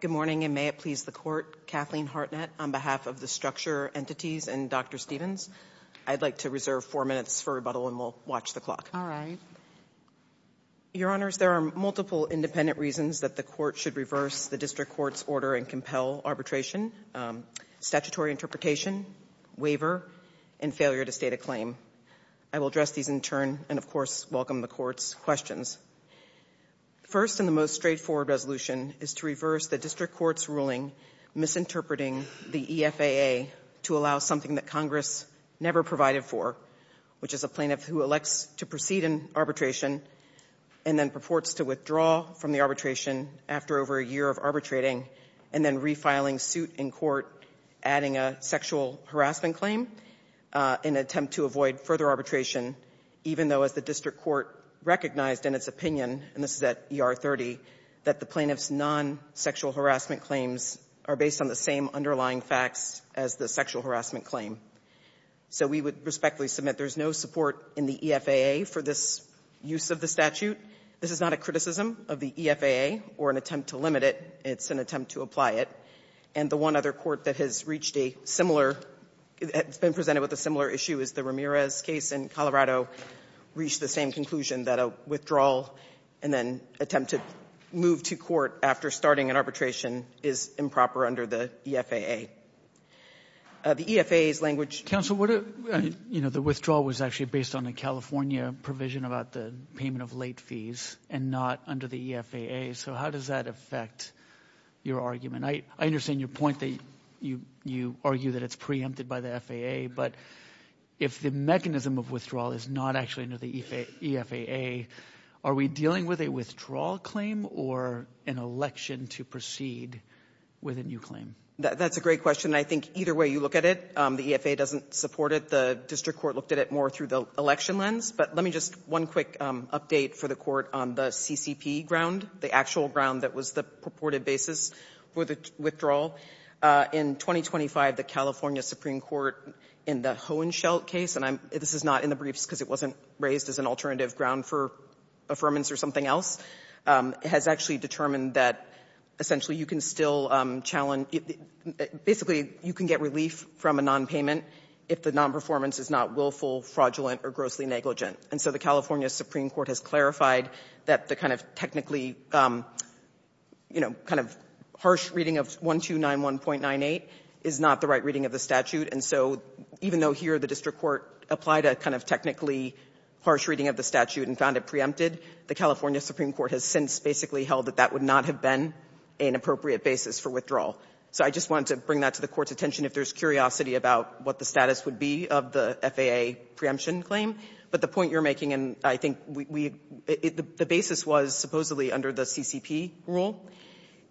Good morning, and may it please the Court, Kathleen Hartnett, on behalf of the structure entities and Dr. Stephens. I'd like to reserve four minutes for rebuttal, and we'll watch the clock. All right. Your Honors, there are multiple independent reasons that the Court should reverse the district court's order and compel arbitration. Statutory interpretation, waiver, and failure to state a claim. I will address these in turn, and, of course, welcome the Court's questions. First and the most straightforward resolution is to reverse the district court's ruling misinterpreting the EFAA to allow something that Congress never provided for, which is a plaintiff who elects to proceed in arbitration and then purports to withdraw from the arbitration after over a year of arbitrating, and then refiling suit in court, adding a sexual harassment claim in an attempt to avoid further arbitration, even though, as the district court recognized in its opinion, and this is at ER 30, that the plaintiff's non-sexual harassment claims are based on the same underlying facts as the sexual harassment claim. So we would respectfully submit there's no support in the EFAA for this use of the statute. This is not a criticism of the EFAA or an attempt to limit it. It's an attempt to apply it. And the one other court that has reached a similar – that's been presented with a similar issue is the Ramirez case in Colorado, reached the same conclusion that a withdrawal and then attempt to move to court after starting an arbitration is improper under the EFAA. The EFAA's language – Robertson, what – you know, the withdrawal was actually based on the California provision about the payment of late fees and not under the EFAA. So how does that affect your argument? I understand your point that you argue that it's preempted by the FAA, but if the mechanism of withdrawal is not actually under the EFAA, are we dealing with a withdrawal claim or an election to proceed with a new claim? That's a great question. I think either way you look at it, the EFAA doesn't support it. The district court looked at it more through the election lens. But let me just one quick update for the court on the CCP ground, the actual ground that was the purported basis for the withdrawal. In 2025, the California Supreme Court in the Hohenschel case – and this is not in the briefs because it wasn't raised as an alternative ground for affirmance or something else – has actually determined that essentially you can still challenge – basically you can get relief from a nonpayment if the nonperformance is not willful, fraudulent, or grossly negligent. And so the California Supreme Court has clarified that the kind of technically, you know, kind of harsh reading of 1291.98 is not the right reading of the statute. And so even though here the district court applied a kind of technically harsh reading of the statute and found it preempted, the California Supreme Court has since basically held that that would not have been an appropriate basis for withdrawal. So I just wanted to bring that to the court's attention if there's curiosity about what the status would be of the FAA preemption claim. But the point you're making, and I think the basis was supposedly under the CCP rule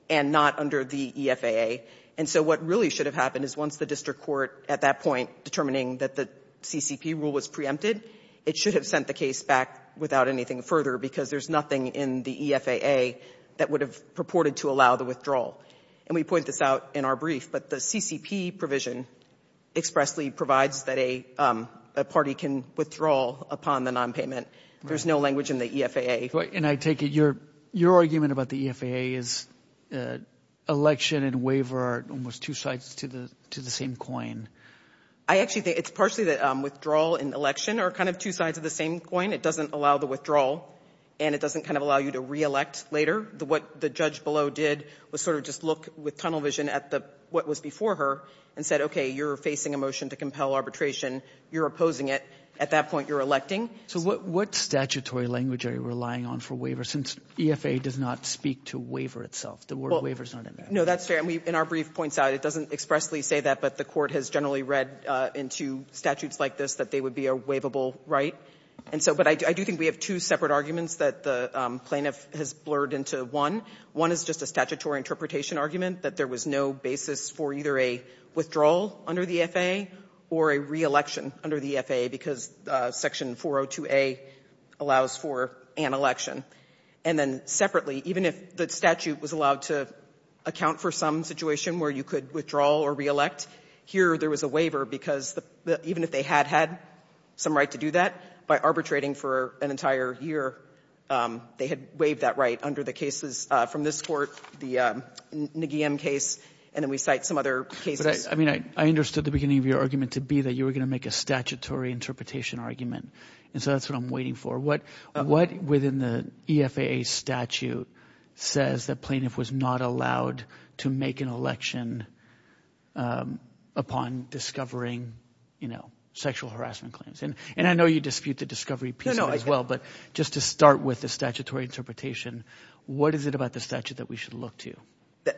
and not under the EFAA. And so what really should have happened is once the district court at that point determining that the CCP rule was preempted, it should have sent the case back without anything further because there's nothing in the EFAA that would have purported to allow the withdrawal. And we point this out in our brief, but the CCP provision expressly provides that a party can withdraw upon the non-payment. There's no language in the EFAA. And I take it your argument about the EFAA is election and waiver are almost two sides to the to the same coin. I actually think it's partially that withdrawal and election are kind of two sides of the same coin. It doesn't allow the withdrawal and it doesn't kind of allow you to re-elect later. What the judge below did was sort of just look with tunnel vision at the what was before her and said, OK, you're facing a motion to compel arbitration. You're opposing it. At that point, you're electing. So what statutory language are you relying on for waiver since EFAA does not speak to waiver itself? The word waiver is not in there. No, that's fair. And we in our brief points out it doesn't expressly say that. But the court has generally read into statutes like this that they would be a waivable right. And so but I do think we have two separate arguments that the plaintiff has blurred into one. One is just a statutory interpretation argument that there was no basis for either a withdrawal under the EFAA or a re-election under the EFAA because Section 402A allows for an election. And then separately, even if the statute was allowed to account for some situation where you could withdraw or re-elect here, there was a waiver because even if they had had some right to do that by arbitrating for an entire year, they had waived that right under the cases from this court, the Nguyen case. And then we cite some other cases. I mean, I understood the beginning of your argument to be that you were going to make a statutory interpretation argument. And so that's what I'm waiting for. What what within the EFAA statute says that plaintiff was not allowed to make an election upon discovering, you know, sexual harassment claims? And I know you dispute the discovery piece as well. But just to start with the statutory interpretation, what is it about the statute that we should look to?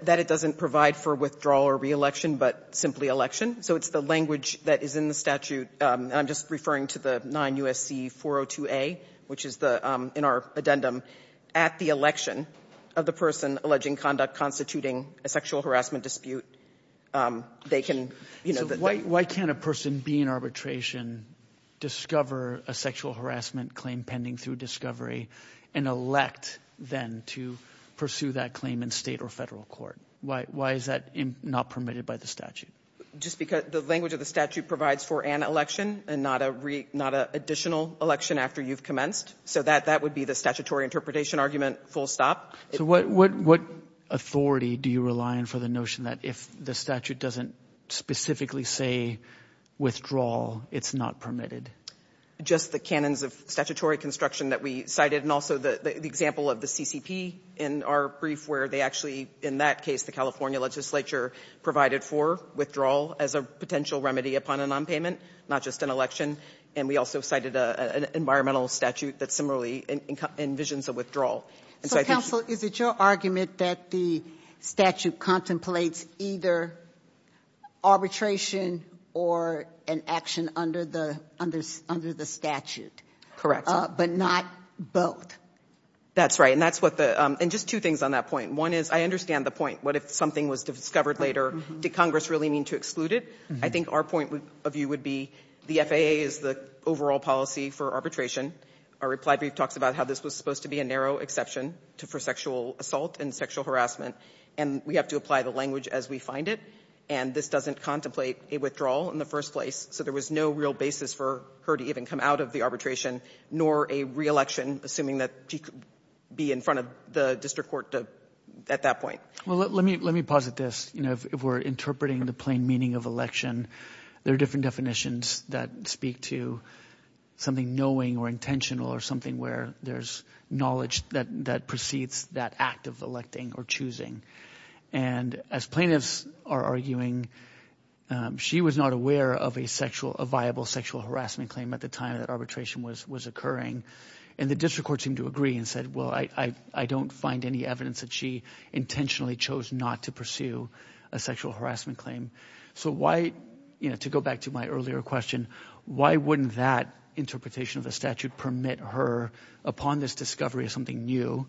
That it doesn't provide for withdrawal or re-election, but simply election. So it's the language that is in the statute. I'm just referring to the 9 U.S.C. 402A, which is the in our addendum at the election of the person alleging conduct constituting a sexual harassment dispute. They can, you know, why can't a person be in arbitration, discover a sexual harassment claim pending through discovery and elect then to pursue that claim in state or federal court? Why is that not permitted by the statute? Just because the language of the statute provides for an election and not a not a additional election after you've commenced. So that that would be the statutory interpretation argument. Full stop. So what what what authority do you rely on for the notion that if the statute doesn't specifically say withdrawal, it's not permitted? Just the canons of statutory construction that we cited and also the example of the CCP in our brief where they actually in that case, the California legislature provided for withdrawal as a potential remedy upon a nonpayment, not just an election. And we also cited an environmental statute that similarly envisions a withdrawal. So, counsel, is it your argument that the statute contemplates either arbitration or an action under the under under the statute? Correct. But not both. That's right. And that's what the and just two things on that point. One is I understand the point. What if something was discovered later? Did Congress really mean to exclude it? I think our point of view would be the FAA is the overall policy for arbitration. Our reply brief talks about how this was supposed to be a narrow exception to for sexual assault and sexual harassment. And we have to apply the language as we find it. And this doesn't contemplate a withdrawal in the first place. So there was no real basis for her to even come out of the arbitration, nor a reelection, assuming that she could be in front of the district court at that point. Well, let me let me posit this. You know, if we're interpreting the plain meaning of election, there are different definitions that speak to something knowing or intentional or something where there's knowledge that that precedes that act of electing or choosing. And as plaintiffs are arguing, she was not aware of a sexual, a viable sexual harassment claim at the time that arbitration was was occurring. And the district court seemed to agree and said, well, I don't find any evidence that she intentionally chose not to pursue a sexual harassment claim. So why, you know, to go back to my earlier question, why wouldn't that interpretation of the statute permit her upon this discovery of something new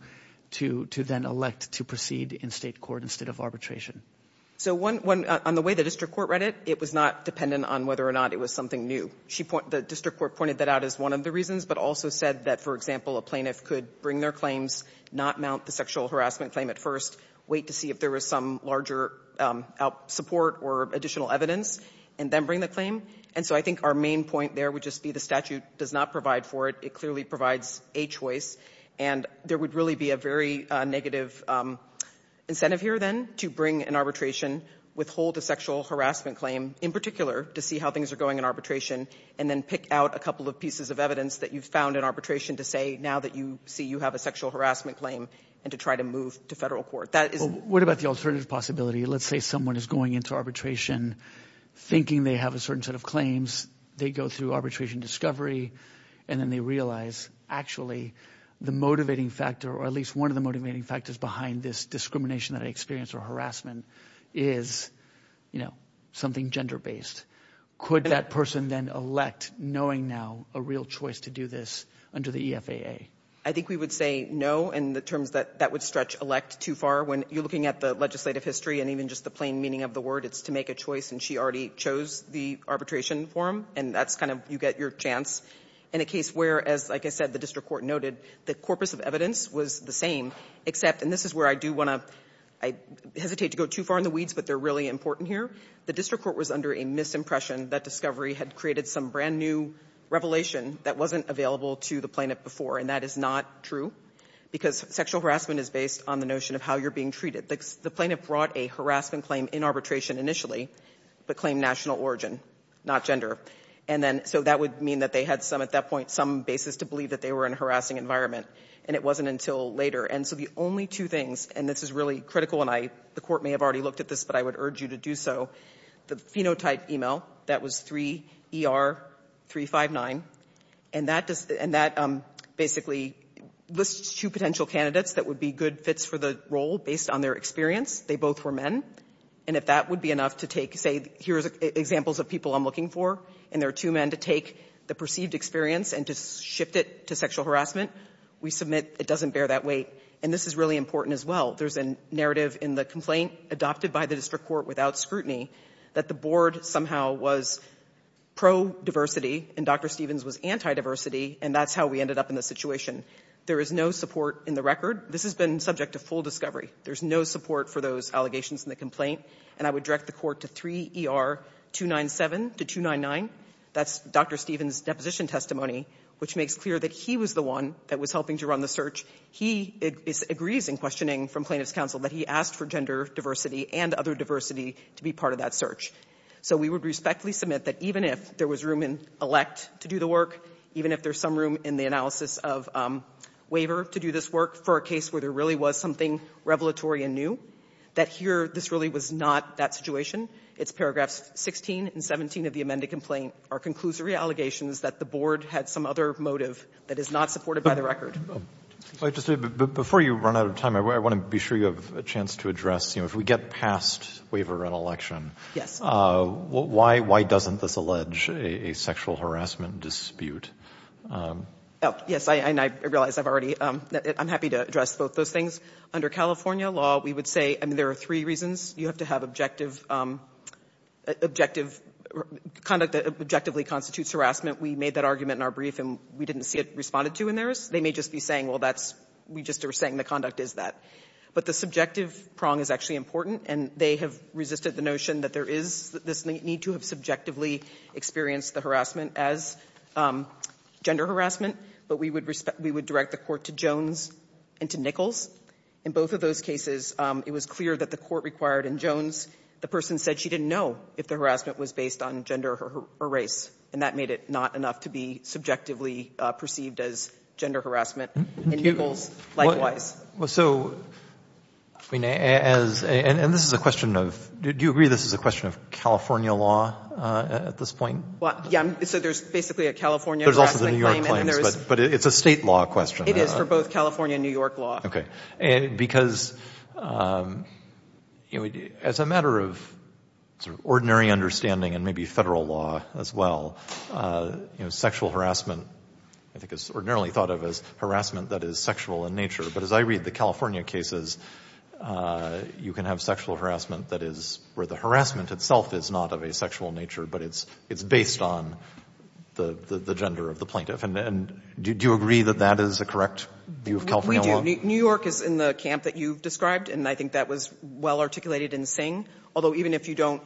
to to then elect to proceed in state court instead of arbitration? So on the way the district court read it, it was not dependent on whether or not it was something new. The district court pointed that out as one of the reasons, but also said that, for example, a plaintiff could bring their claims, not mount the sexual harassment claim at first, wait to see if there was some larger support or additional evidence, and then bring the claim. And so I think our main point there would just be the statute does not provide for it. It clearly provides a choice. And there would really be a very negative incentive here then to bring an arbitration, withhold a sexual harassment claim in particular to see how things are going in arbitration and then pick out a couple of pieces of evidence that you've found in arbitration to say now that you see you have a sexual harassment claim and to try to move to federal court. That is what about the alternative possibility? Let's say someone is going into arbitration thinking they have a certain set of claims. They go through arbitration discovery and then they realize actually the motivating factor or at least one of the motivating factors behind this discrimination that I experience or harassment is, you know, something gender based. Could that person then elect knowing now a real choice to do this under the EFAA? I think we would say no in the terms that that would stretch elect too far when you're looking at the legislative history and even just the plain meaning of the word, it's to make a choice. And she already chose the arbitration form. And that's kind of you get your chance in a case where, as I said, the district court noted the corpus of evidence was the same, except and this is where I do want to I hesitate to go too far in the weeds, but they're really important here. The district court was under a misimpression that discovery had created some brand new revelation that wasn't available to the plaintiff before. And that is not true because sexual harassment is based on the notion of how you're being treated. The plaintiff brought a harassment claim in arbitration initially, but claimed national origin, not gender. And then so that would mean that they had some at that point some basis to believe that they were in a harassing environment and it wasn't until later. And so the only two things, and this is really critical and I the court may have already looked at this, but I would urge you to do so. The phenotype email that was 3ER359 and that does and that basically lists two potential candidates that would be good fits for the role based on their experience. They both were men. And if that would be enough to take, say, here's examples of people I'm looking for and there are two men to take the perceived experience and to shift it to sexual harassment, we submit it doesn't bear that weight. And this is really important as well. There's a narrative in the complaint adopted by the district court without scrutiny that the board somehow was pro-diversity and Dr. Stevens was anti-diversity and that's how we ended up in this situation. There is no support in the record. This has been subject to full discovery. There's no support for those allegations in the complaint. And I would direct the court to 3ER297 to 299. That's Dr. Stevens' deposition testimony, which makes clear that he was the one that was helping to run the search. He agrees in questioning from plaintiff's counsel that he asked for gender diversity and other diversity to be part of that search. So we would respectfully submit that even if there was room in elect to do the work, even if there's some room in the analysis of waiver to do this work for a case where there really was something revelatory and new, that here this really was not that situation. It's paragraphs 16 and 17 of the amended complaint are conclusory allegations that the board had some other motive that is not supported by the record. Before you run out of time, I want to be sure you have a chance to address, if we get past waiver and election, why doesn't this allege a sexual harassment dispute? Yes, I realize I've already, I'm happy to address both those things. Under California law, we would say, I mean there are three reasons. You have to have objective, conduct that objectively constitutes harassment. We made that argument in our brief and we didn't see it responded to in theirs. They may just be saying, well, that's, we just are saying the conduct is that. But the subjective prong is actually important, and they have resisted the notion that there is this need to have subjectively experienced the harassment as gender harassment, but we would respect, we would direct the court to Jones and to Nichols. In both of those cases, it was clear that the court required in Jones, the person said she didn't know if the harassment was based on gender or race, and that made it not enough to be subjectively perceived as gender harassment in Nichols, likewise. So, I mean, as, and this is a question of, do you agree this is a question of California law at this point? Well, yeah, so there's basically a California harassment claim. There's also the New York claims, but it's a state law question. It is for both California and New York law. Okay. And because, you know, as a matter of sort of ordinary understanding and maybe federal law as well, you know, sexual harassment I think is ordinarily thought of as harassment that is sexual in nature, but as I read the California cases, you can have sexual harassment that is, where the harassment itself is not of a sexual nature, but it's based on the gender of the plaintiff. And do you agree that that is a correct view of California law? New York is in the camp that you've described, and I think that was well articulated in Singh. Although, even if you don't,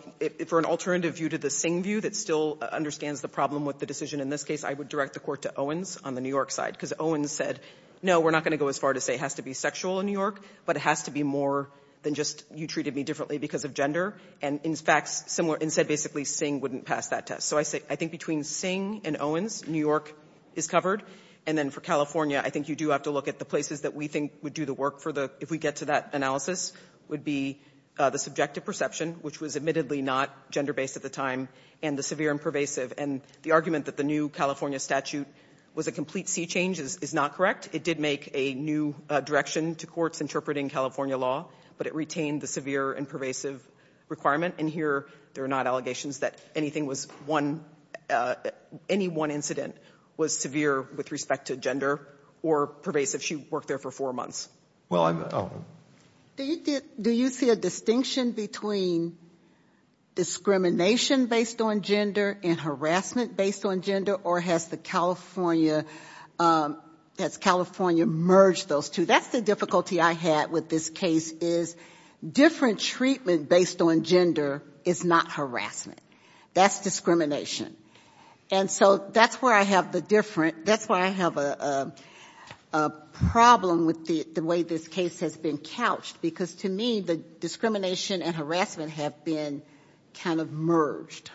for an alternative view to the Singh view that still understands the problem with the decision in this case, I would direct the court to Owens on the New York side, because Owens said, no, we're not going to go as far to say it has to be sexual in New York, but it has to be more than just you treated me differently because of gender, and in fact said basically Singh wouldn't pass that test. So I think between Singh and Owens, New York is covered, and then for California I think you do have to look at the places that we think would do the work for the if we get to that analysis, would be the subjective perception, which was admittedly not gender-based at the time, and the severe and pervasive, and the argument that the new California statute was a complete sea change is not correct. It did make a new direction to courts interpreting California law, but it retained the severe and pervasive requirement, and here there are not allegations that anything was one, any one incident was severe with respect to gender or pervasive. She worked there for four months. Do you see a distinction between discrimination based on gender and harassment based on gender, or has the California, has California merged those two? That's the difficulty I had with this case, is different treatment based on gender is not harassment. That's discrimination. And so that's where I have the different that's where I have a problem with the way this case has been couched, because to me the discrimination and harassment have been kind of merged.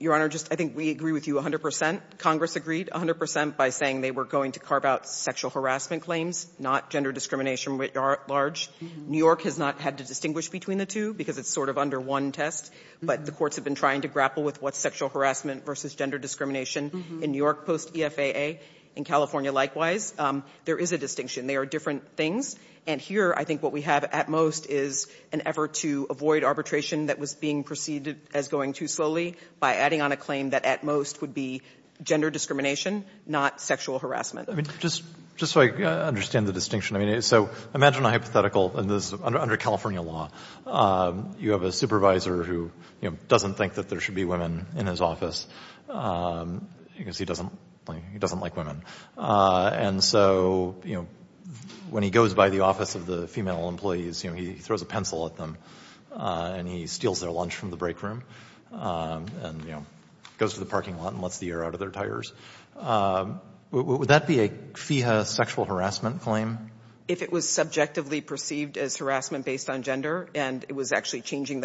Your Honor, just I think we agree with you 100 percent. Congress agreed 100 percent by saying they were going to carve out sexual harassment claims, not gender discrimination writ large. New York has not had to distinguish between the two because it's sort of under one test, but the courts have been trying to grapple with what's sexual harassment versus gender discrimination in New York post-EFAA, in California likewise. There is a distinction. They are different things. And here I think what we have at most is an effort to avoid arbitration that was being preceded as going too slowly by adding on a claim that at most would be gender discrimination, not sexual harassment. I mean, just so I understand the distinction, I mean, so imagine a hypothetical under California law. You have a supervisor who doesn't think that there should be women in his office because he doesn't like women. And so when he goes by the office of the female employees, he throws a pencil at them and he steals their lunch from the break room and goes to the parking lot and lets the air out of their tires. Would that be a FIHA sexual harassment claim? If it was subjectively perceived as harassment based on gender and it was actually changing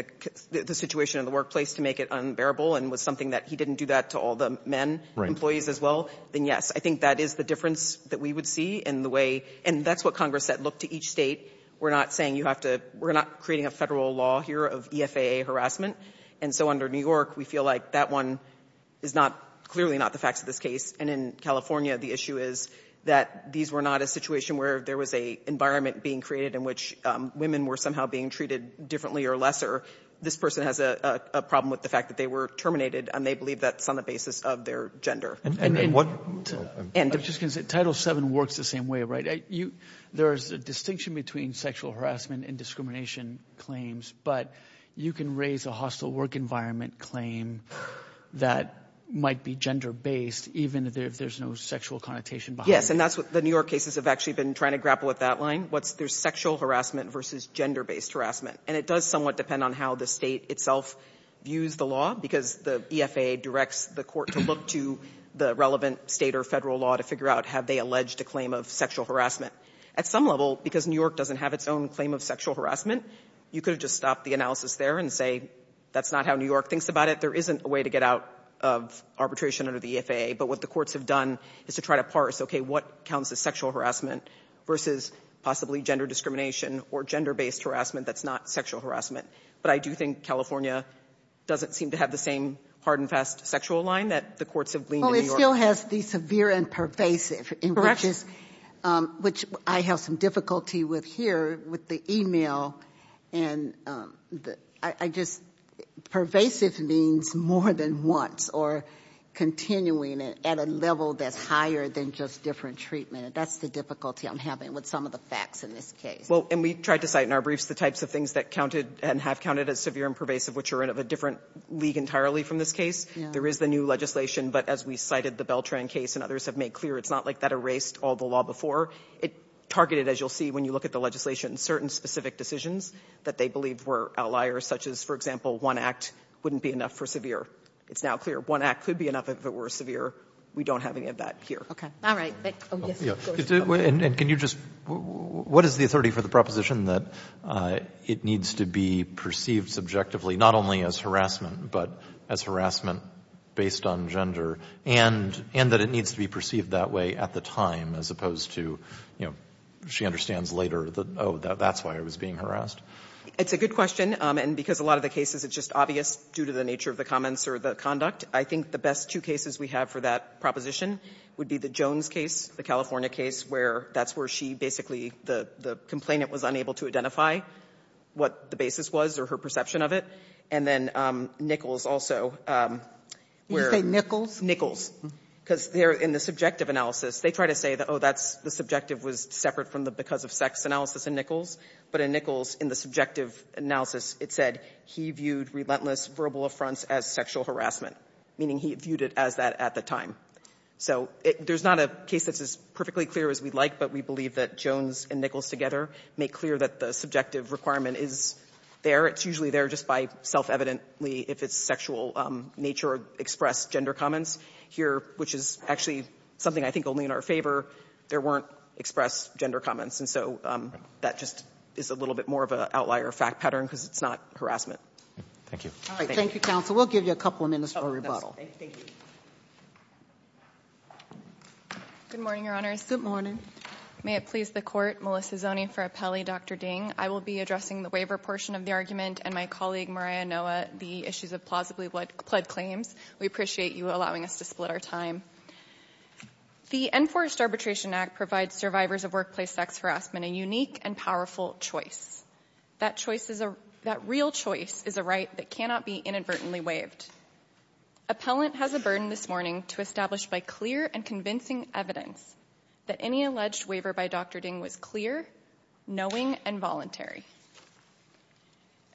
the situation in the workplace to make it unbearable and was something that he didn't do that to all the men employees as well, then yes. I think that is the difference that we would see in the way — and that's what Congress said. Look, to each State, we're not saying you have to — we're not creating a Federal law here of EFAA harassment. And so under New York, we feel like that one is not — clearly not the facts of this case. And in California, the issue is that these were not a situation where there was a environment being created in which women were somehow being treated differently or lesser. This person has a problem with the fact that they were terminated and they believe that's on the basis of their gender. And what — I'm just going to say, Title VII works the same way, right? There's a distinction between sexual harassment and discrimination claims, but you can raise a hostile work environment claim that might be gender-based, even if there's no sexual connotation behind it. Yes. And that's what the New York cases have actually been trying to grapple with that line, what's their sexual harassment versus gender-based harassment. And it does somewhat depend on how the State itself views the law, because the EFAA directs the Court to look to the relevant State or Federal law to figure out have they alleged a claim of sexual harassment. At some level, because New York doesn't have its own claim of sexual harassment, you could have just stopped the analysis there and say that's not how New York thinks about it. There isn't a way to get out of arbitration under the EFAA. But what the courts have done is to try to parse, okay, what counts as sexual harassment versus possibly gender discrimination or gender-based harassment that's not sexual harassment. But I do think California doesn't seem to have the same hard and fast sexual line that the courts have gleaned in New York. Well, it still has the severe and pervasive. Correct. Which I have some difficulty with here with the e-mail. And I just, pervasive means more than once or continuing at a level that's higher than just different treatment. That's the difficulty I'm having with some of the facts in this case. Well, and we tried to cite in our briefs the types of things that counted and have counted as severe and pervasive, which are of a different league entirely from this case. There is the new legislation. But as we cited the Beltran case and others have made clear, it's not like that erased all the law before. It targeted, as you will see when you look at the legislation, certain specific decisions that they believe were outliers, such as, for example, one act wouldn't be enough for severe. It's now clear one act could be enough if it were severe. We don't have any of that here. Okay. All right. And can you just, what is the authority for the proposition that it needs to be perceived subjectively, not only as harassment, but as harassment based on gender, and that it needs to be perceived that way at the time, as opposed to, you know, she understands later that, oh, that's why it was being harassed? It's a good question. And because a lot of the cases, it's just obvious due to the nature of the comments or the conduct. I think the best two cases we have for that proposition would be the Jones case, the California case, where that's where she basically the complainant was unable to identify what the basis was or her perception of it. And then Nichols also. Did you say Nichols? Nichols. Because there, in the subjective analysis, they try to say that, oh, that's the subjective was separate from the because of sex analysis in Nichols. But in Nichols, in the subjective analysis, it said he viewed relentless verbal affronts as sexual harassment, meaning he viewed it as that at the time. So there's not a case that's as perfectly clear as we'd like, but we believe that Jones and Nichols together make clear that the subjective requirement is there. It's usually there just by self-evidently if it's sexual nature or expressed gender comments. Here, which is actually something I think only in our favor, there weren't expressed gender comments. And so that just is a little bit more of an outlier fact pattern because it's not harassment. Roberts. Thank you. Thank you, counsel. We'll give you a couple of minutes for rebuttal. Thank you. Good morning, Your Honors. Good morning. May it please the Court, Melissa Zoni for Appelli, Dr. Ding. I will be addressing the waiver portion of the argument and my colleague, Mariah Noah, the issues of plausibly pled claims. We appreciate you allowing us to split our time. The Enforced Arbitration Act provides survivors of workplace sex harassment a unique and powerful choice. That choice is a real choice is a right that cannot be inadvertently waived. Appellant has a burden this morning to establish by clear and convincing evidence that any alleged waiver by Dr. Ding was clear, knowing, and voluntary.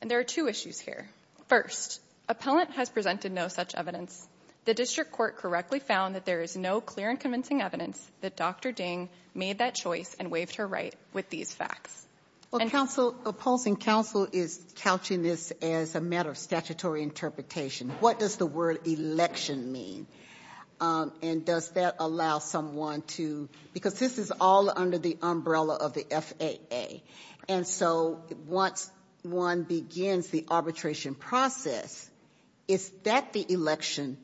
And there are two issues here. First, appellant has presented no such evidence. The district court correctly found that there is no clear and convincing evidence that Dr. Ding made that choice and waived her right with these facts. Well, opposing counsel is couching this as a matter of statutory interpretation. What does the word election mean? And does that allow someone to, because this is all under the umbrella of the FAA, and so once one begins the arbitration process, is that the election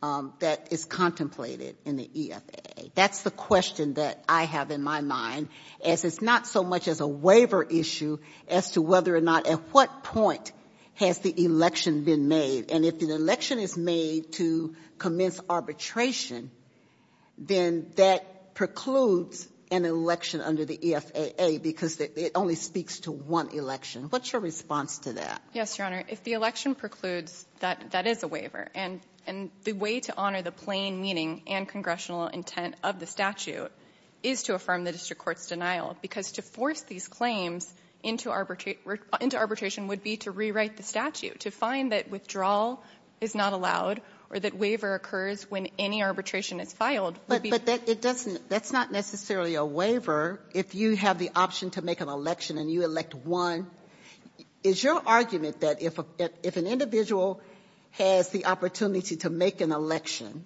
that is contemplated in the EFAA? That's the question that I have in my mind, as it's not so much as a waiver issue as to whether or not at what point has the election been made. And if an election is made to commence arbitration, then that precludes an election under the EFAA because it only speaks to one election. What's your response to that? Yes, Your Honor. If the election precludes, that is a waiver. And the way to honor the plain meaning and congressional intent of the statute is to affirm the district court's denial, because to force these claims into arbitration would be to rewrite the statute, to find that withdrawal is not allowed or that waiver occurs when any arbitration is filed. But that's not necessarily a waiver if you have the option to make an election and you elect one. Is your argument that if an individual has the opportunity to make an election,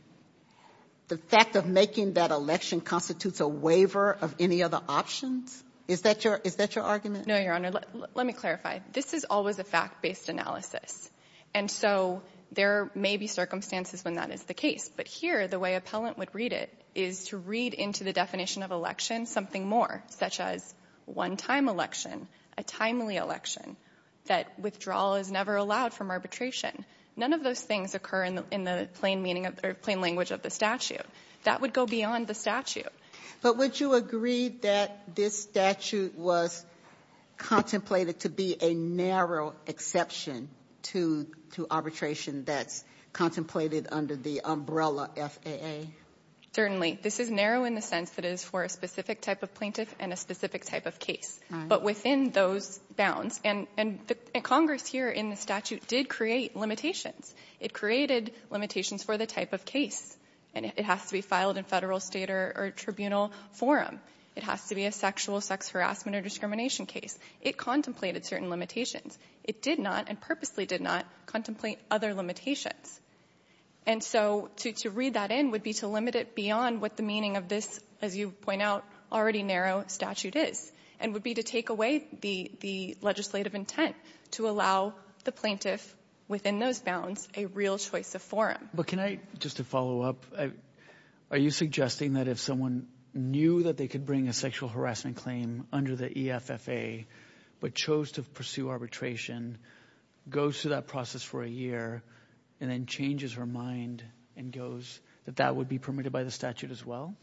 the fact of making that election constitutes a waiver of any other options? Is that your argument? No, Your Honor. Let me clarify. This is always a fact-based analysis. And so there may be circumstances when that is the case. But here, the way appellant would read it is to read into the definition of election something more, such as one-time election, a timely election, that withdrawal is never allowed from arbitration. None of those things occur in the plain meaning of the plain language of the statute. That would go beyond the statute. But would you agree that this statute was contemplated to be a narrow exception to arbitration that's contemplated under the umbrella FAA? Certainly. This is narrow in the sense that it is for a specific type of plaintiff and a specific type of case. But within those bounds, and Congress here in the statute did create limitations. It created limitations for the type of case. And it has to be filed in Federal, State, or Tribunal forum. It has to be a sexual, sex harassment, or discrimination case. It contemplated certain limitations. It did not, and purposely did not, contemplate other limitations. And so to read that in would be to limit it beyond what the meaning of this, as you point out, already narrow statute is, and would be to take away the legislative intent to allow the plaintiff within those bounds a real choice of forum. But can I, just to follow up, are you suggesting that if someone knew that they could bring a sexual harassment claim under the EFFA, but chose to pursue arbitration, goes through that process for a year, and then changes her mind and goes, that that would be permitted by the statute as well?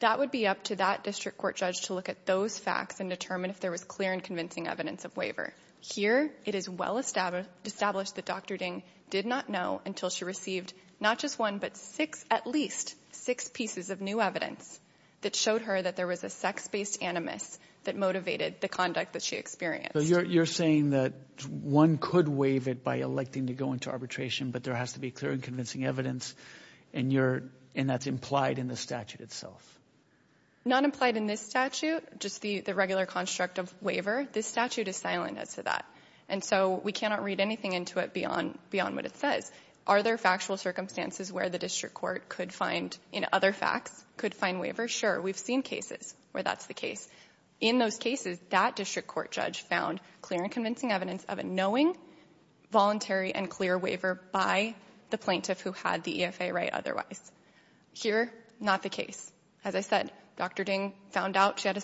That would be up to that district court judge to look at those facts and determine if there was clear and convincing evidence of waiver. Here, it is well established that Dr. Ding did not know until she received not just one, but six, at least six pieces of new evidence that showed her that there was a sex-based animus that motivated the conduct that she experienced. So you're saying that one could waive it by electing to go into arbitration, but there has to be clear and convincing evidence, and you're, and that's implied in the statute itself? Not implied in this statute, just the regular construct of waiver. This statute is silent as to that. And so we cannot read anything into it beyond what it says. Are there factual circumstances where the district court could find, in other facts, could find waiver? Sure. We've seen cases where that's the case. In those cases, that district court judge found clear and convincing evidence of a knowing, voluntary, and clear waiver by the plaintiff who had the EFFA right otherwise. Here, not the case. As I said, Dr. Ding found out she had a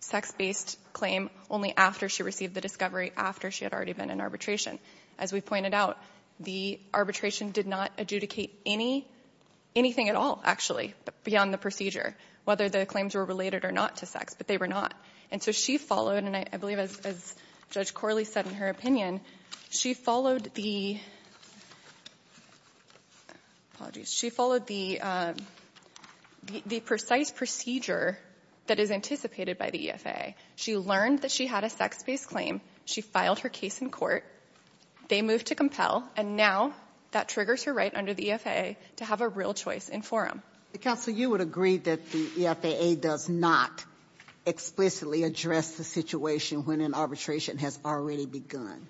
sex-based claim only after she received the discovery, after she had already been in arbitration. As we pointed out, the arbitration did not adjudicate any, anything at all, actually, beyond the procedure, whether the claims were related or not to sex, but they were not. And so she followed, and I believe as Judge Corley said in her opinion, she followed the, apologies, she followed the precise procedure that is anticipated by the EFFA. She learned that she had a sex-based claim. She filed her case in court. They moved to compel, and now that triggers her right under the EFFA to have a real choice in forum. Counsel, you would agree that the EFFA does not explicitly address the situation when an arbitration has already begun?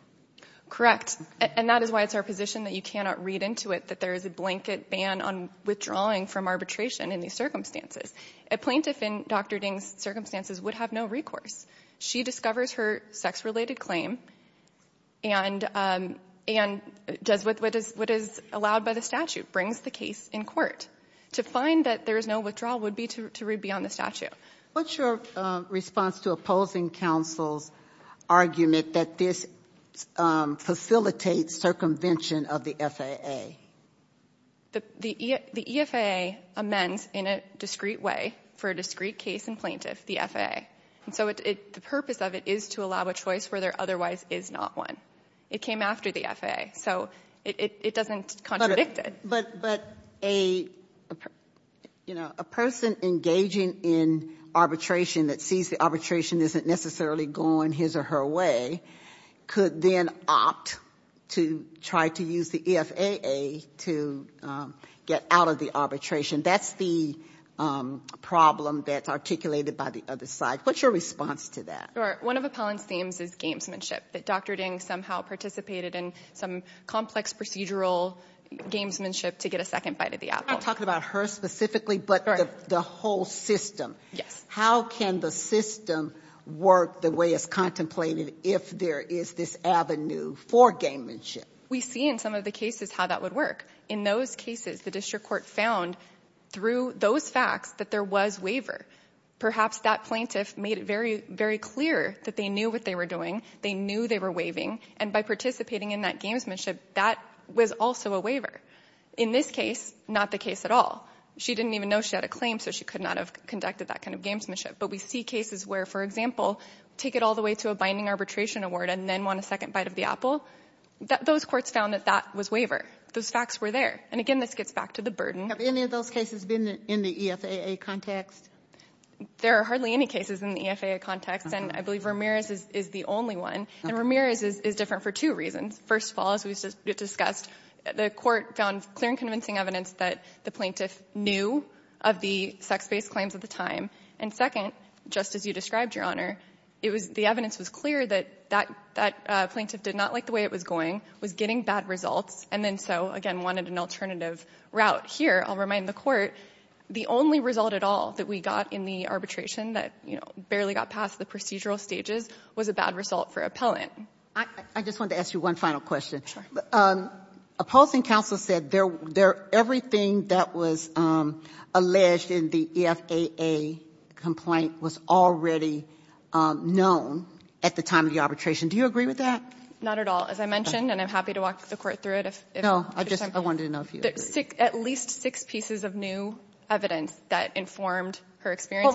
Correct. And that is why it's our position that you cannot read into it that there is a blanket ban on withdrawing from arbitration in these circumstances. A plaintiff in Dr. Ding's circumstances would have no recourse. She discovers her sex-related claim and does what is allowed by the statute, brings the case in court. To find that there is no withdrawal would be to read beyond the statute. What's your response to opposing counsel's argument that this facilitates circumvention of the FAA? The EFFA amends in a discrete way for a discrete case in plaintiff, the FAA. And so the purpose of it is to allow a choice where there otherwise is not one. It came after the FAA. So it doesn't contradict it. But, you know, a person engaging in arbitration that sees the arbitration isn't necessarily going his or her way could then opt to try to use the EFAA to get out of the arbitration. That's the problem that's articulated by the other side. What's your response to that? One of Appellant's themes is gamesmanship, that Dr. Ding somehow participated in some complex procedural gamesmanship to get a second bite at the apple. I'm not talking about her specifically, but the whole system. Yes. How can the system work the way it's contemplated if there is this avenue for gamesmanship? We see in some of the cases how that would work. In those cases, the district court found through those facts that there was waiver. Perhaps that plaintiff made it very clear that they knew what they were doing, they knew they were waiving, and by participating in that gamesmanship, that was also a waiver. In this case, not the case at all. She didn't even know she had a claim, so she could not have conducted that kind of gamesmanship. But we see cases where, for example, take it all the way to a binding arbitration award and then want a second bite of the apple. Those courts found that that was waiver. Those facts were there. And, again, this gets back to the burden. Have any of those cases been in the EFAA context? There are hardly any cases in the EFAA context. And I believe Ramirez is the only one. And Ramirez is different for two reasons. First of all, as we discussed, the Court found clear and convincing evidence that the plaintiff knew of the sex-based claims at the time. And second, just as you described, Your Honor, it was the evidence was clear that that plaintiff did not like the way it was going, was getting bad results, and then so, again, wanted an alternative route. Here, I'll remind the Court, the only result at all that we got in the arbitration that barely got past the procedural stages was a bad result for appellant. I just wanted to ask you one final question. Opposing counsel said everything that was alleged in the EFAA complaint was already known at the time of the arbitration. Do you agree with that? Not at all. As I mentioned, and I'm happy to walk the Court through it. No, I just wanted to know if you agreed. At least six pieces of new evidence that informed her experience.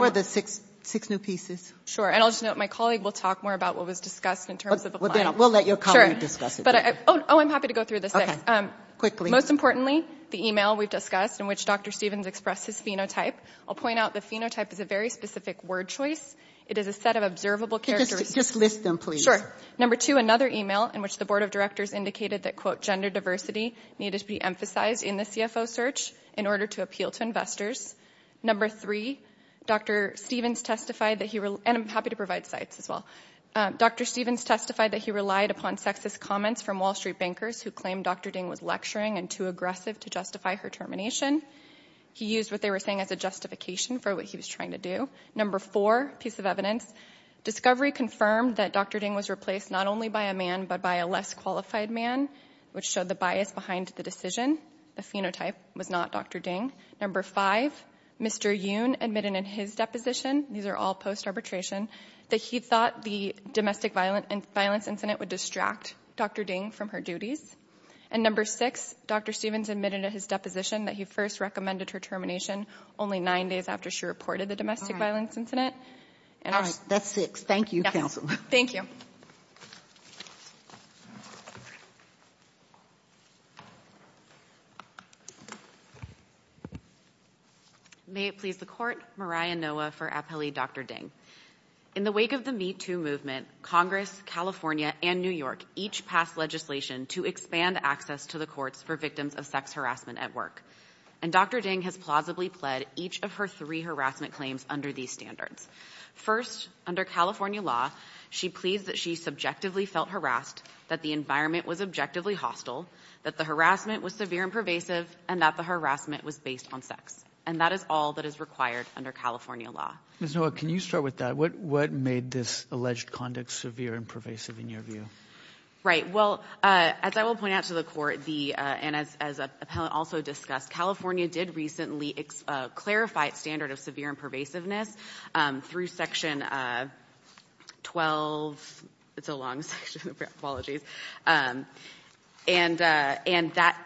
Six new pieces. And I'll just note my colleague will talk more about what was discussed in terms of the client. We'll let your colleague discuss it. Oh, I'm happy to go through the six. Okay. Quickly. Most importantly, the email we've discussed in which Dr. Stevens expressed his phenotype. I'll point out the phenotype is a very specific word choice. It is a set of observable characteristics. Just list them, please. Number two, another email in which the Board of Directors indicated that, quote, gender diversity needed to be emphasized in the CFO search in order to appeal to investors. Number three, Dr. Stevens testified that he, and I'm happy to provide sites as well, Dr. Stevens testified that he relied upon sexist comments from Wall Street bankers who claimed Dr. Ding was lecturing and too aggressive to justify her termination. He used what they were saying as a justification for what he was trying to do. Number four piece of evidence, discovery confirmed that Dr. Ding was replaced not only by a man, but by a less qualified man, which showed the bias behind the decision. The phenotype was not Dr. Ding. Number five, Mr. Yoon admitted in his deposition, these are all post-arbitration, that he thought the domestic violence incident would distract Dr. Ding from her duties. And number six, Dr. Stevens admitted in his deposition that he first recommended her termination only nine days after she reported the domestic violence incident. And that's six. Thank you, counsel. Thank you. May it please the court, Mariah Noah for appellee Dr. Ding. In the wake of the Me Too movement, Congress, California, and New York, each passed legislation to expand access to the courts for victims of sex harassment at work. And Dr. Ding has plausibly pled each of her three harassment claims under these standards. First, under California law, she pleads that she subjectively felt harassed, that the environment was objectively hostile, that the harassment was severe and pervasive, and that the harassment was based on sex. And that is all that is required under California law. Ms. Noah, can you start with that? What made this alleged conduct severe and pervasive in your view? Right. Well, as I will point out to the court, and as an appellant also discussed, California did recently clarify its standard of severe and pervasiveness through section 12. It's a long section. Apologies. And that,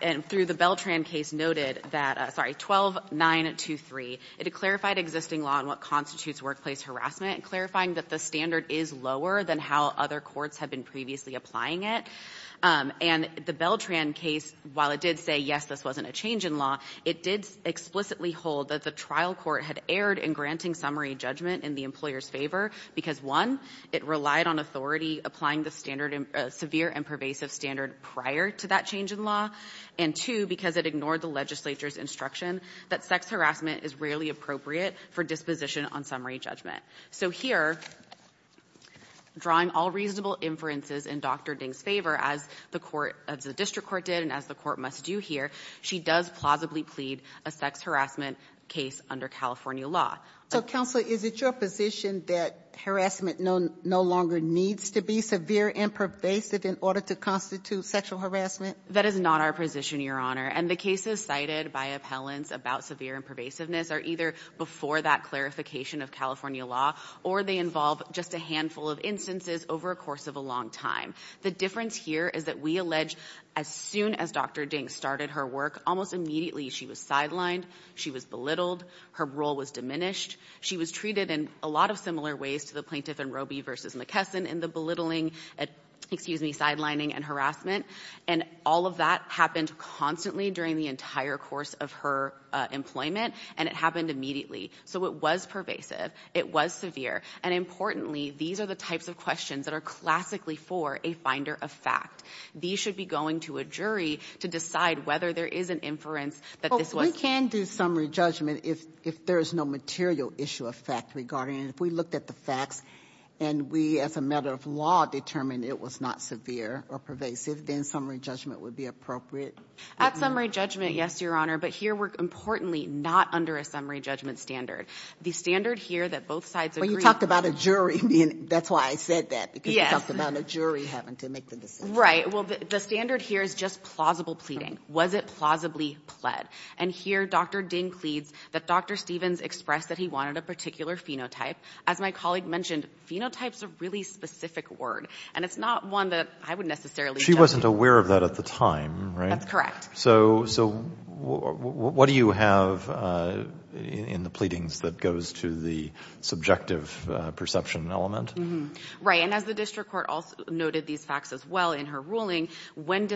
and through the Beltran case noted that, sorry, 12-923, it clarified existing law and what constitutes workplace harassment, clarifying that the standard is lower than how other courts have been previously applying it. And the Beltran case, while it did say, yes, this wasn't a change in law, it did explicitly hold that the trial court had erred in granting summary judgment in the employer's favor because, one, it relied on authority applying the standard of severe and pervasive standard prior to that change in law, and, two, because it ignored the legislature's instruction that sex harassment is rarely appropriate for disposition on summary judgment. So here, drawing all reasonable inferences in Dr. Ding's favor, as the district court did and as the court must do here, she does plausibly plead a sex harassment case under California law. So, Counselor, is it your position that harassment no longer needs to be severe and pervasive in order to constitute sexual harassment? That is not our position, Your Honor. And the cases cited by appellants about severe and pervasiveness are either before that clarification of California law or they involve just a handful of instances over a course of a long time. The difference here is that we allege as soon as Dr. Ding started her work, almost immediately she was sidelined, she was belittled, her role was diminished, she was treated in a lot of similar ways to the plaintiff in Roby v. McKesson in the belittling, excuse me, sidelining and harassment. And all of that happened constantly during the entire course of her employment, and it happened immediately. So it was pervasive. It was severe. And, importantly, these are the types of questions that are classically for a finder of fact. These should be going to a jury to decide whether there is an inference that this was severe. We can't do summary judgment if there is no material issue of fact regarding it. If we looked at the facts and we, as a matter of law, determined it was not severe or pervasive, then summary judgment would be appropriate. At summary judgment, yes, Your Honor. But here we're, importantly, not under a summary judgment standard. The standard here that both sides agree on. When you talk about a jury, that's why I said that, because you talked about a jury having to make the decision. Right. Well, the standard here is just plausible pleading. Was it plausibly pled? And here Dr. Ding pleads that Dr. Stevens expressed that he wanted a particular phenotype. As my colleague mentioned, phenotype is a really specific word, and it's not one that I would necessarily judge. She wasn't aware of that at the time, right? That's correct. So what do you have in the pleadings that goes to the subjective perception element? Right. And as the district court noted these facts as well in her ruling, when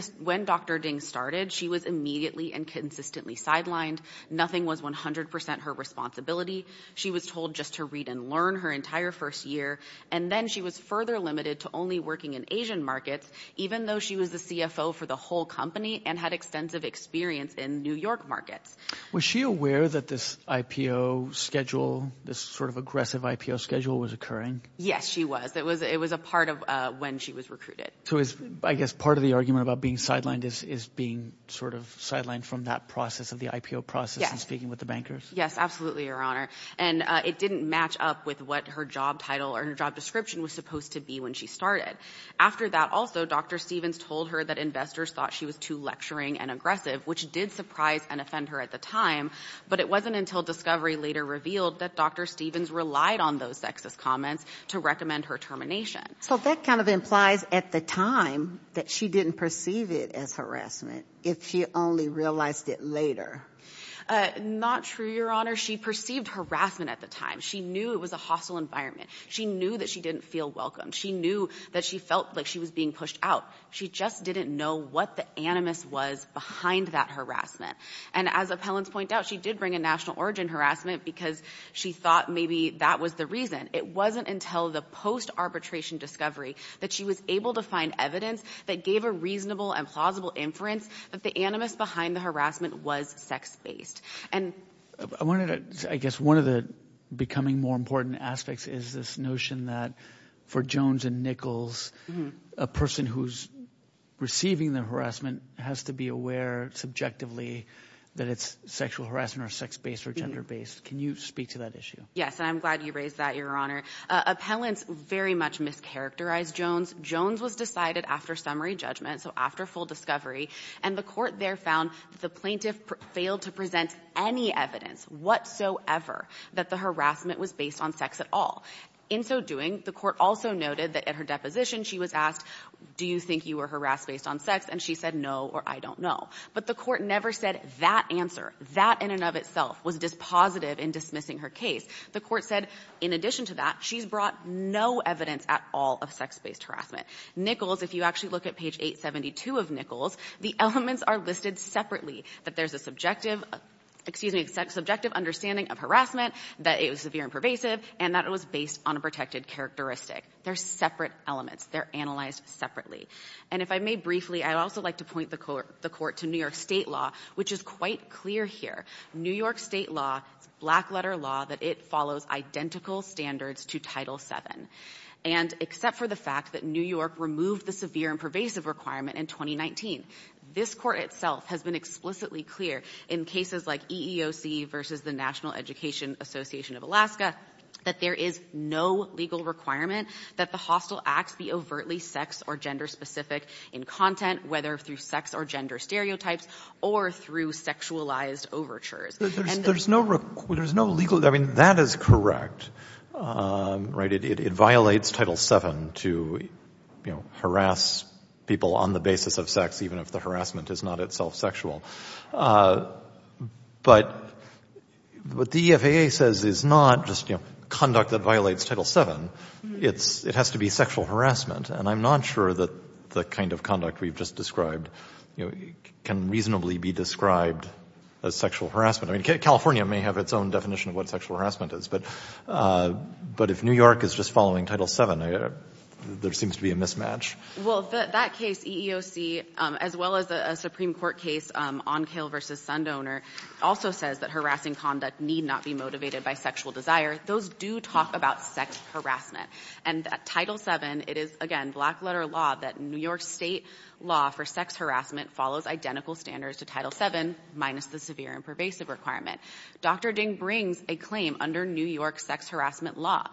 Dr. Ding started, she was immediately and consistently sidelined. Nothing was 100% her responsibility. She was told just to read and learn her entire first year, and then she was further limited to only working in Asian markets, even though she was the CFO for the whole company and had extensive experience in New York markets. Was she aware that this IPO schedule, this sort of aggressive IPO schedule was occurring? Yes, she was. It was a part of when she was recruited. So I guess part of the argument about being sidelined is being sort of sidelined from that process of the IPO process and speaking with the bankers? Yes, absolutely, Your Honor. And it didn't match up with what her job title or her job description was supposed to be when she started. After that also, Dr. Stevens told her that investors thought she was too lecturing and aggressive, which did surprise and offend her at the time, but it wasn't until discovery later revealed that Dr. Stevens relied on those sexist comments to recommend her termination. So that kind of implies at the time that she didn't perceive it as harassment if she only realized it later. Not true, Your Honor. She perceived harassment at the time. She knew it was a hostile environment. She knew that she didn't feel welcomed. She knew that she felt like she was being pushed out. She just didn't know what the animus was behind that harassment. And as appellants point out, she did bring a national origin harassment because she thought maybe that was the reason. It wasn't until the post-arbitration discovery that she was able to find evidence that gave a reasonable and plausible inference that the animus behind the harassment was sex-based. I guess one of the becoming more important aspects is this notion that for Jones and Nichols, a person who's receiving the harassment has to be aware subjectively that it's sexual harassment or sex-based or gender-based. Can you speak to that issue? Yes, and I'm glad you raised that, Your Honor. Appellants very much mischaracterized Jones. Jones was decided after summary judgment, so after full discovery, and the court there found the plaintiff failed to present any evidence whatsoever that the harassment was based on sex at all. In so doing, the court also noted that at her deposition she was asked, do you think you were harassed based on sex? And she said no or I don't know. But the court never said that answer. That in and of itself was dispositive in dismissing her case. The court said in addition to that, she's brought no evidence at all of sex-based harassment. Nichols, if you actually look at page 872 of Nichols, the elements are listed separately, that there's a subjective, excuse me, subjective understanding of harassment, that it was severe and pervasive, and that it was based on a protected characteristic. They're separate elements. They're analyzed separately. And if I may briefly, I'd also like to point the court to New York State law, which is quite clear here. New York State law, it's black letter law that it follows identical standards to Title VII. And except for the fact that New York removed the severe and pervasive requirement in 2019, this court itself has been explicitly clear in cases like EEOC versus the National Education Association of Alaska that there is no legal requirement that the hostile acts be overtly sex or gender specific in content, whether through sex or gender stereotypes or through sexualized overtures. And there's no legal – I mean, that is correct, right? It violates Title VII to harass people on the basis of sex, even if the harassment is not itself sexual. But what the EFAA says is not just conduct that violates Title VII. It has to be sexual harassment. And I'm not sure that the kind of conduct we've just described can reasonably be described as sexual harassment. I mean, California may have its own definition of what sexual harassment is. But if New York is just following Title VII, there seems to be a mismatch. Well, that case, EEOC, as well as a Supreme Court case, Onkale v. Sundowner, also says that harassing conduct need not be motivated by sexual desire. Those do talk about sex harassment. And Title VII, it is, again, black-letter law that New York State law for sex harassment follows identical standards to Title VII minus the severe and pervasive requirement. Dr. Ding brings a claim under New York sex harassment law.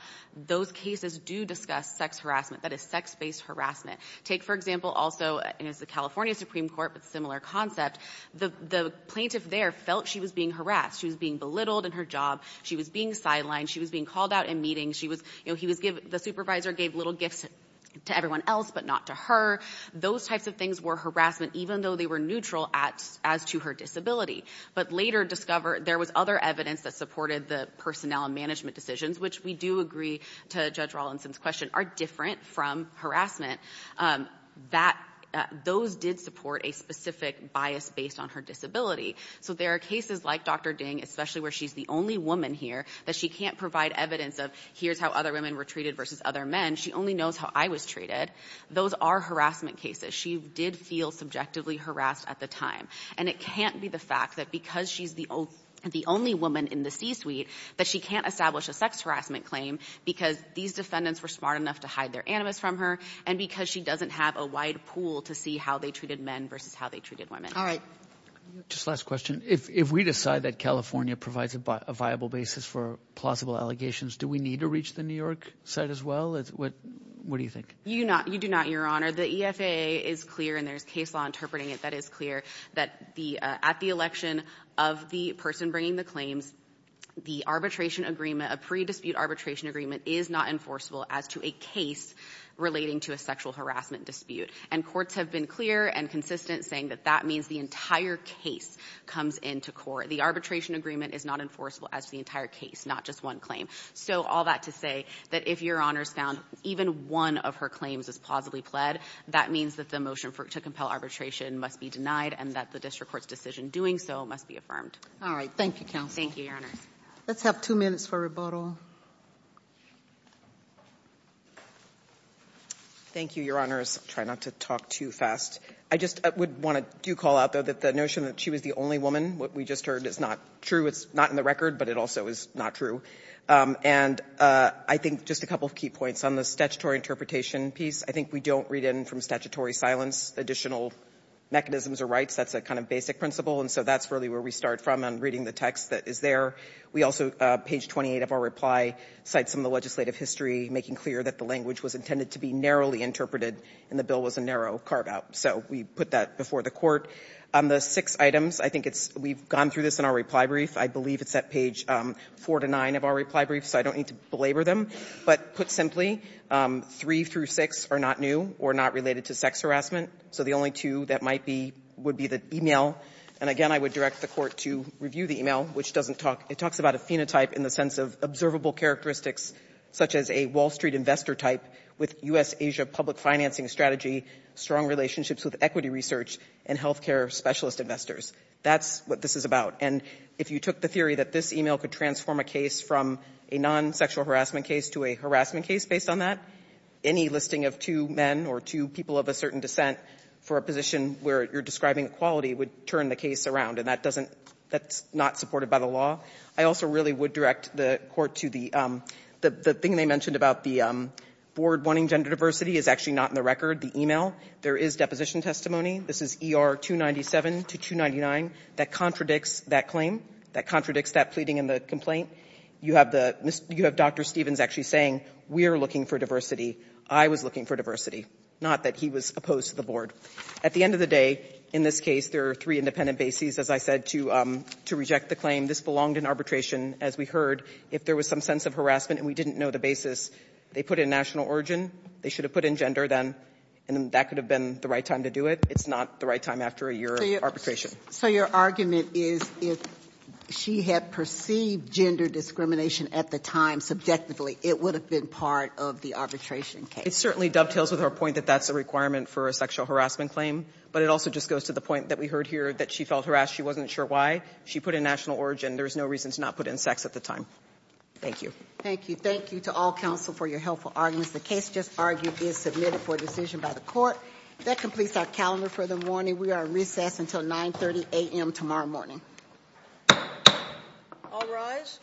Those cases do discuss sex harassment. That is sex-based harassment. Take, for example, also – and it's the California Supreme Court, but similar concept – the plaintiff there felt she was being harassed. She was being belittled in her job. She was being sidelined. She was being called out in meetings. She was – the supervisor gave little gifts to everyone else but not to her. Those types of things were harassment, even though they were neutral as to her disability. But later discovered there was other evidence that supported the personnel and management decisions, which we do agree to Judge Rawlinson's question, are different from harassment. Those did support a specific bias based on her disability. So there are cases like Dr. Ding, especially where she's the only woman here, that she can't provide evidence of here's how other women were treated versus other men. She only knows how I was treated. Those are harassment cases. She did feel subjectively harassed at the time. And it can't be the fact that because she's the only woman in the C-suite that she can't establish a sex harassment claim because these defendants were smart enough to hide their animus from her and because she doesn't have a wide pool to see how they treated men versus how they treated women. All right. Just last question. If we decide that California provides a viable basis for plausible allegations, do we need to reach the New York side as well? What do you think? You do not, Your Honor. The EFAA is clear and there's case law interpreting it that is clear that at the election of the person bringing the claims, the arbitration agreement, a pre-dispute arbitration agreement, is not enforceable as to a case relating to a sexual harassment dispute. And courts have been clear and consistent saying that that means the entire case comes into court. The arbitration agreement is not enforceable as to the entire case, not just one claim. So all that to say that if Your Honor's found even one of her claims is plausibly pled, that means that the motion to compel arbitration must be denied and that the district court's decision doing so must be affirmed. All right. Thank you, counsel. Thank you, Your Honor. Let's have two minutes for rebuttal. Thank you, Your Honors. I'll try not to talk too fast. I just would want to do call out, though, that the notion that she was the only woman, what we just heard, is not true. It's not in the record, but it also is not true. And I think just a couple of key points. On the statutory interpretation piece, I think we don't read in from statutory silence additional mechanisms or rights. That's a kind of basic principle, and so that's really where we start from on reading the text that is there. We also, page 28 of our reply, cite some of the legislative history making clear that the language was intended to be narrowly interpreted and the bill was a narrow carve-out. So we put that before the court. On the six items, I think it's we've gone through this in our reply brief. I believe it's at page four to nine of our reply brief, so I don't need to belabor them. But put simply, three through six are not new or not related to sex harassment, so the only two that might be would be the e-mail. And, again, I would direct the court to review the e-mail, which doesn't talk, it talks about a phenotype in the sense of observable characteristics, such as a Wall Street investor type with U.S.-Asia public financing strategy, strong relationships with equity research, and health care specialist investors. That's what this is about. And if you took the theory that this e-mail could transform a case from a non-sexual harassment case to a harassment case based on that, any listing of two men or two people of a certain descent for a position where you're describing equality would turn the case around, and that doesn't, that's not supported by the law. I also really would direct the court to the thing they mentioned about the board wanting gender diversity is actually not in the record, the e-mail. There is deposition testimony. This is ER 297 to 299. That contradicts that claim. That contradicts that pleading in the complaint. You have the Dr. Stevens actually saying, we are looking for diversity. I was looking for diversity. Not that he was opposed to the board. At the end of the day, in this case, there are three independent bases, as I said, to reject the claim. This belonged in arbitration, as we heard. If there was some sense of harassment and we didn't know the basis, they put in national origin, they should have put in gender then, and then that could have been the right time to do it. It's not the right time after a year of arbitration. So your argument is if she had perceived gender discrimination at the time subjectively, it would have been part of the arbitration case. It certainly dovetails with her point that that's a requirement for a sexual harassment claim, but it also just goes to the point that we heard here that she felt harassed. She wasn't sure why. She put in national origin. There's no reason to not put in sex at the time. Thank you. Thank you. Thank you to all counsel for your helpful arguments. The case just argued is submitted for decision by the court. That completes our calendar for the morning. We are recessed until 9.30 a.m. tomorrow morning. All rise.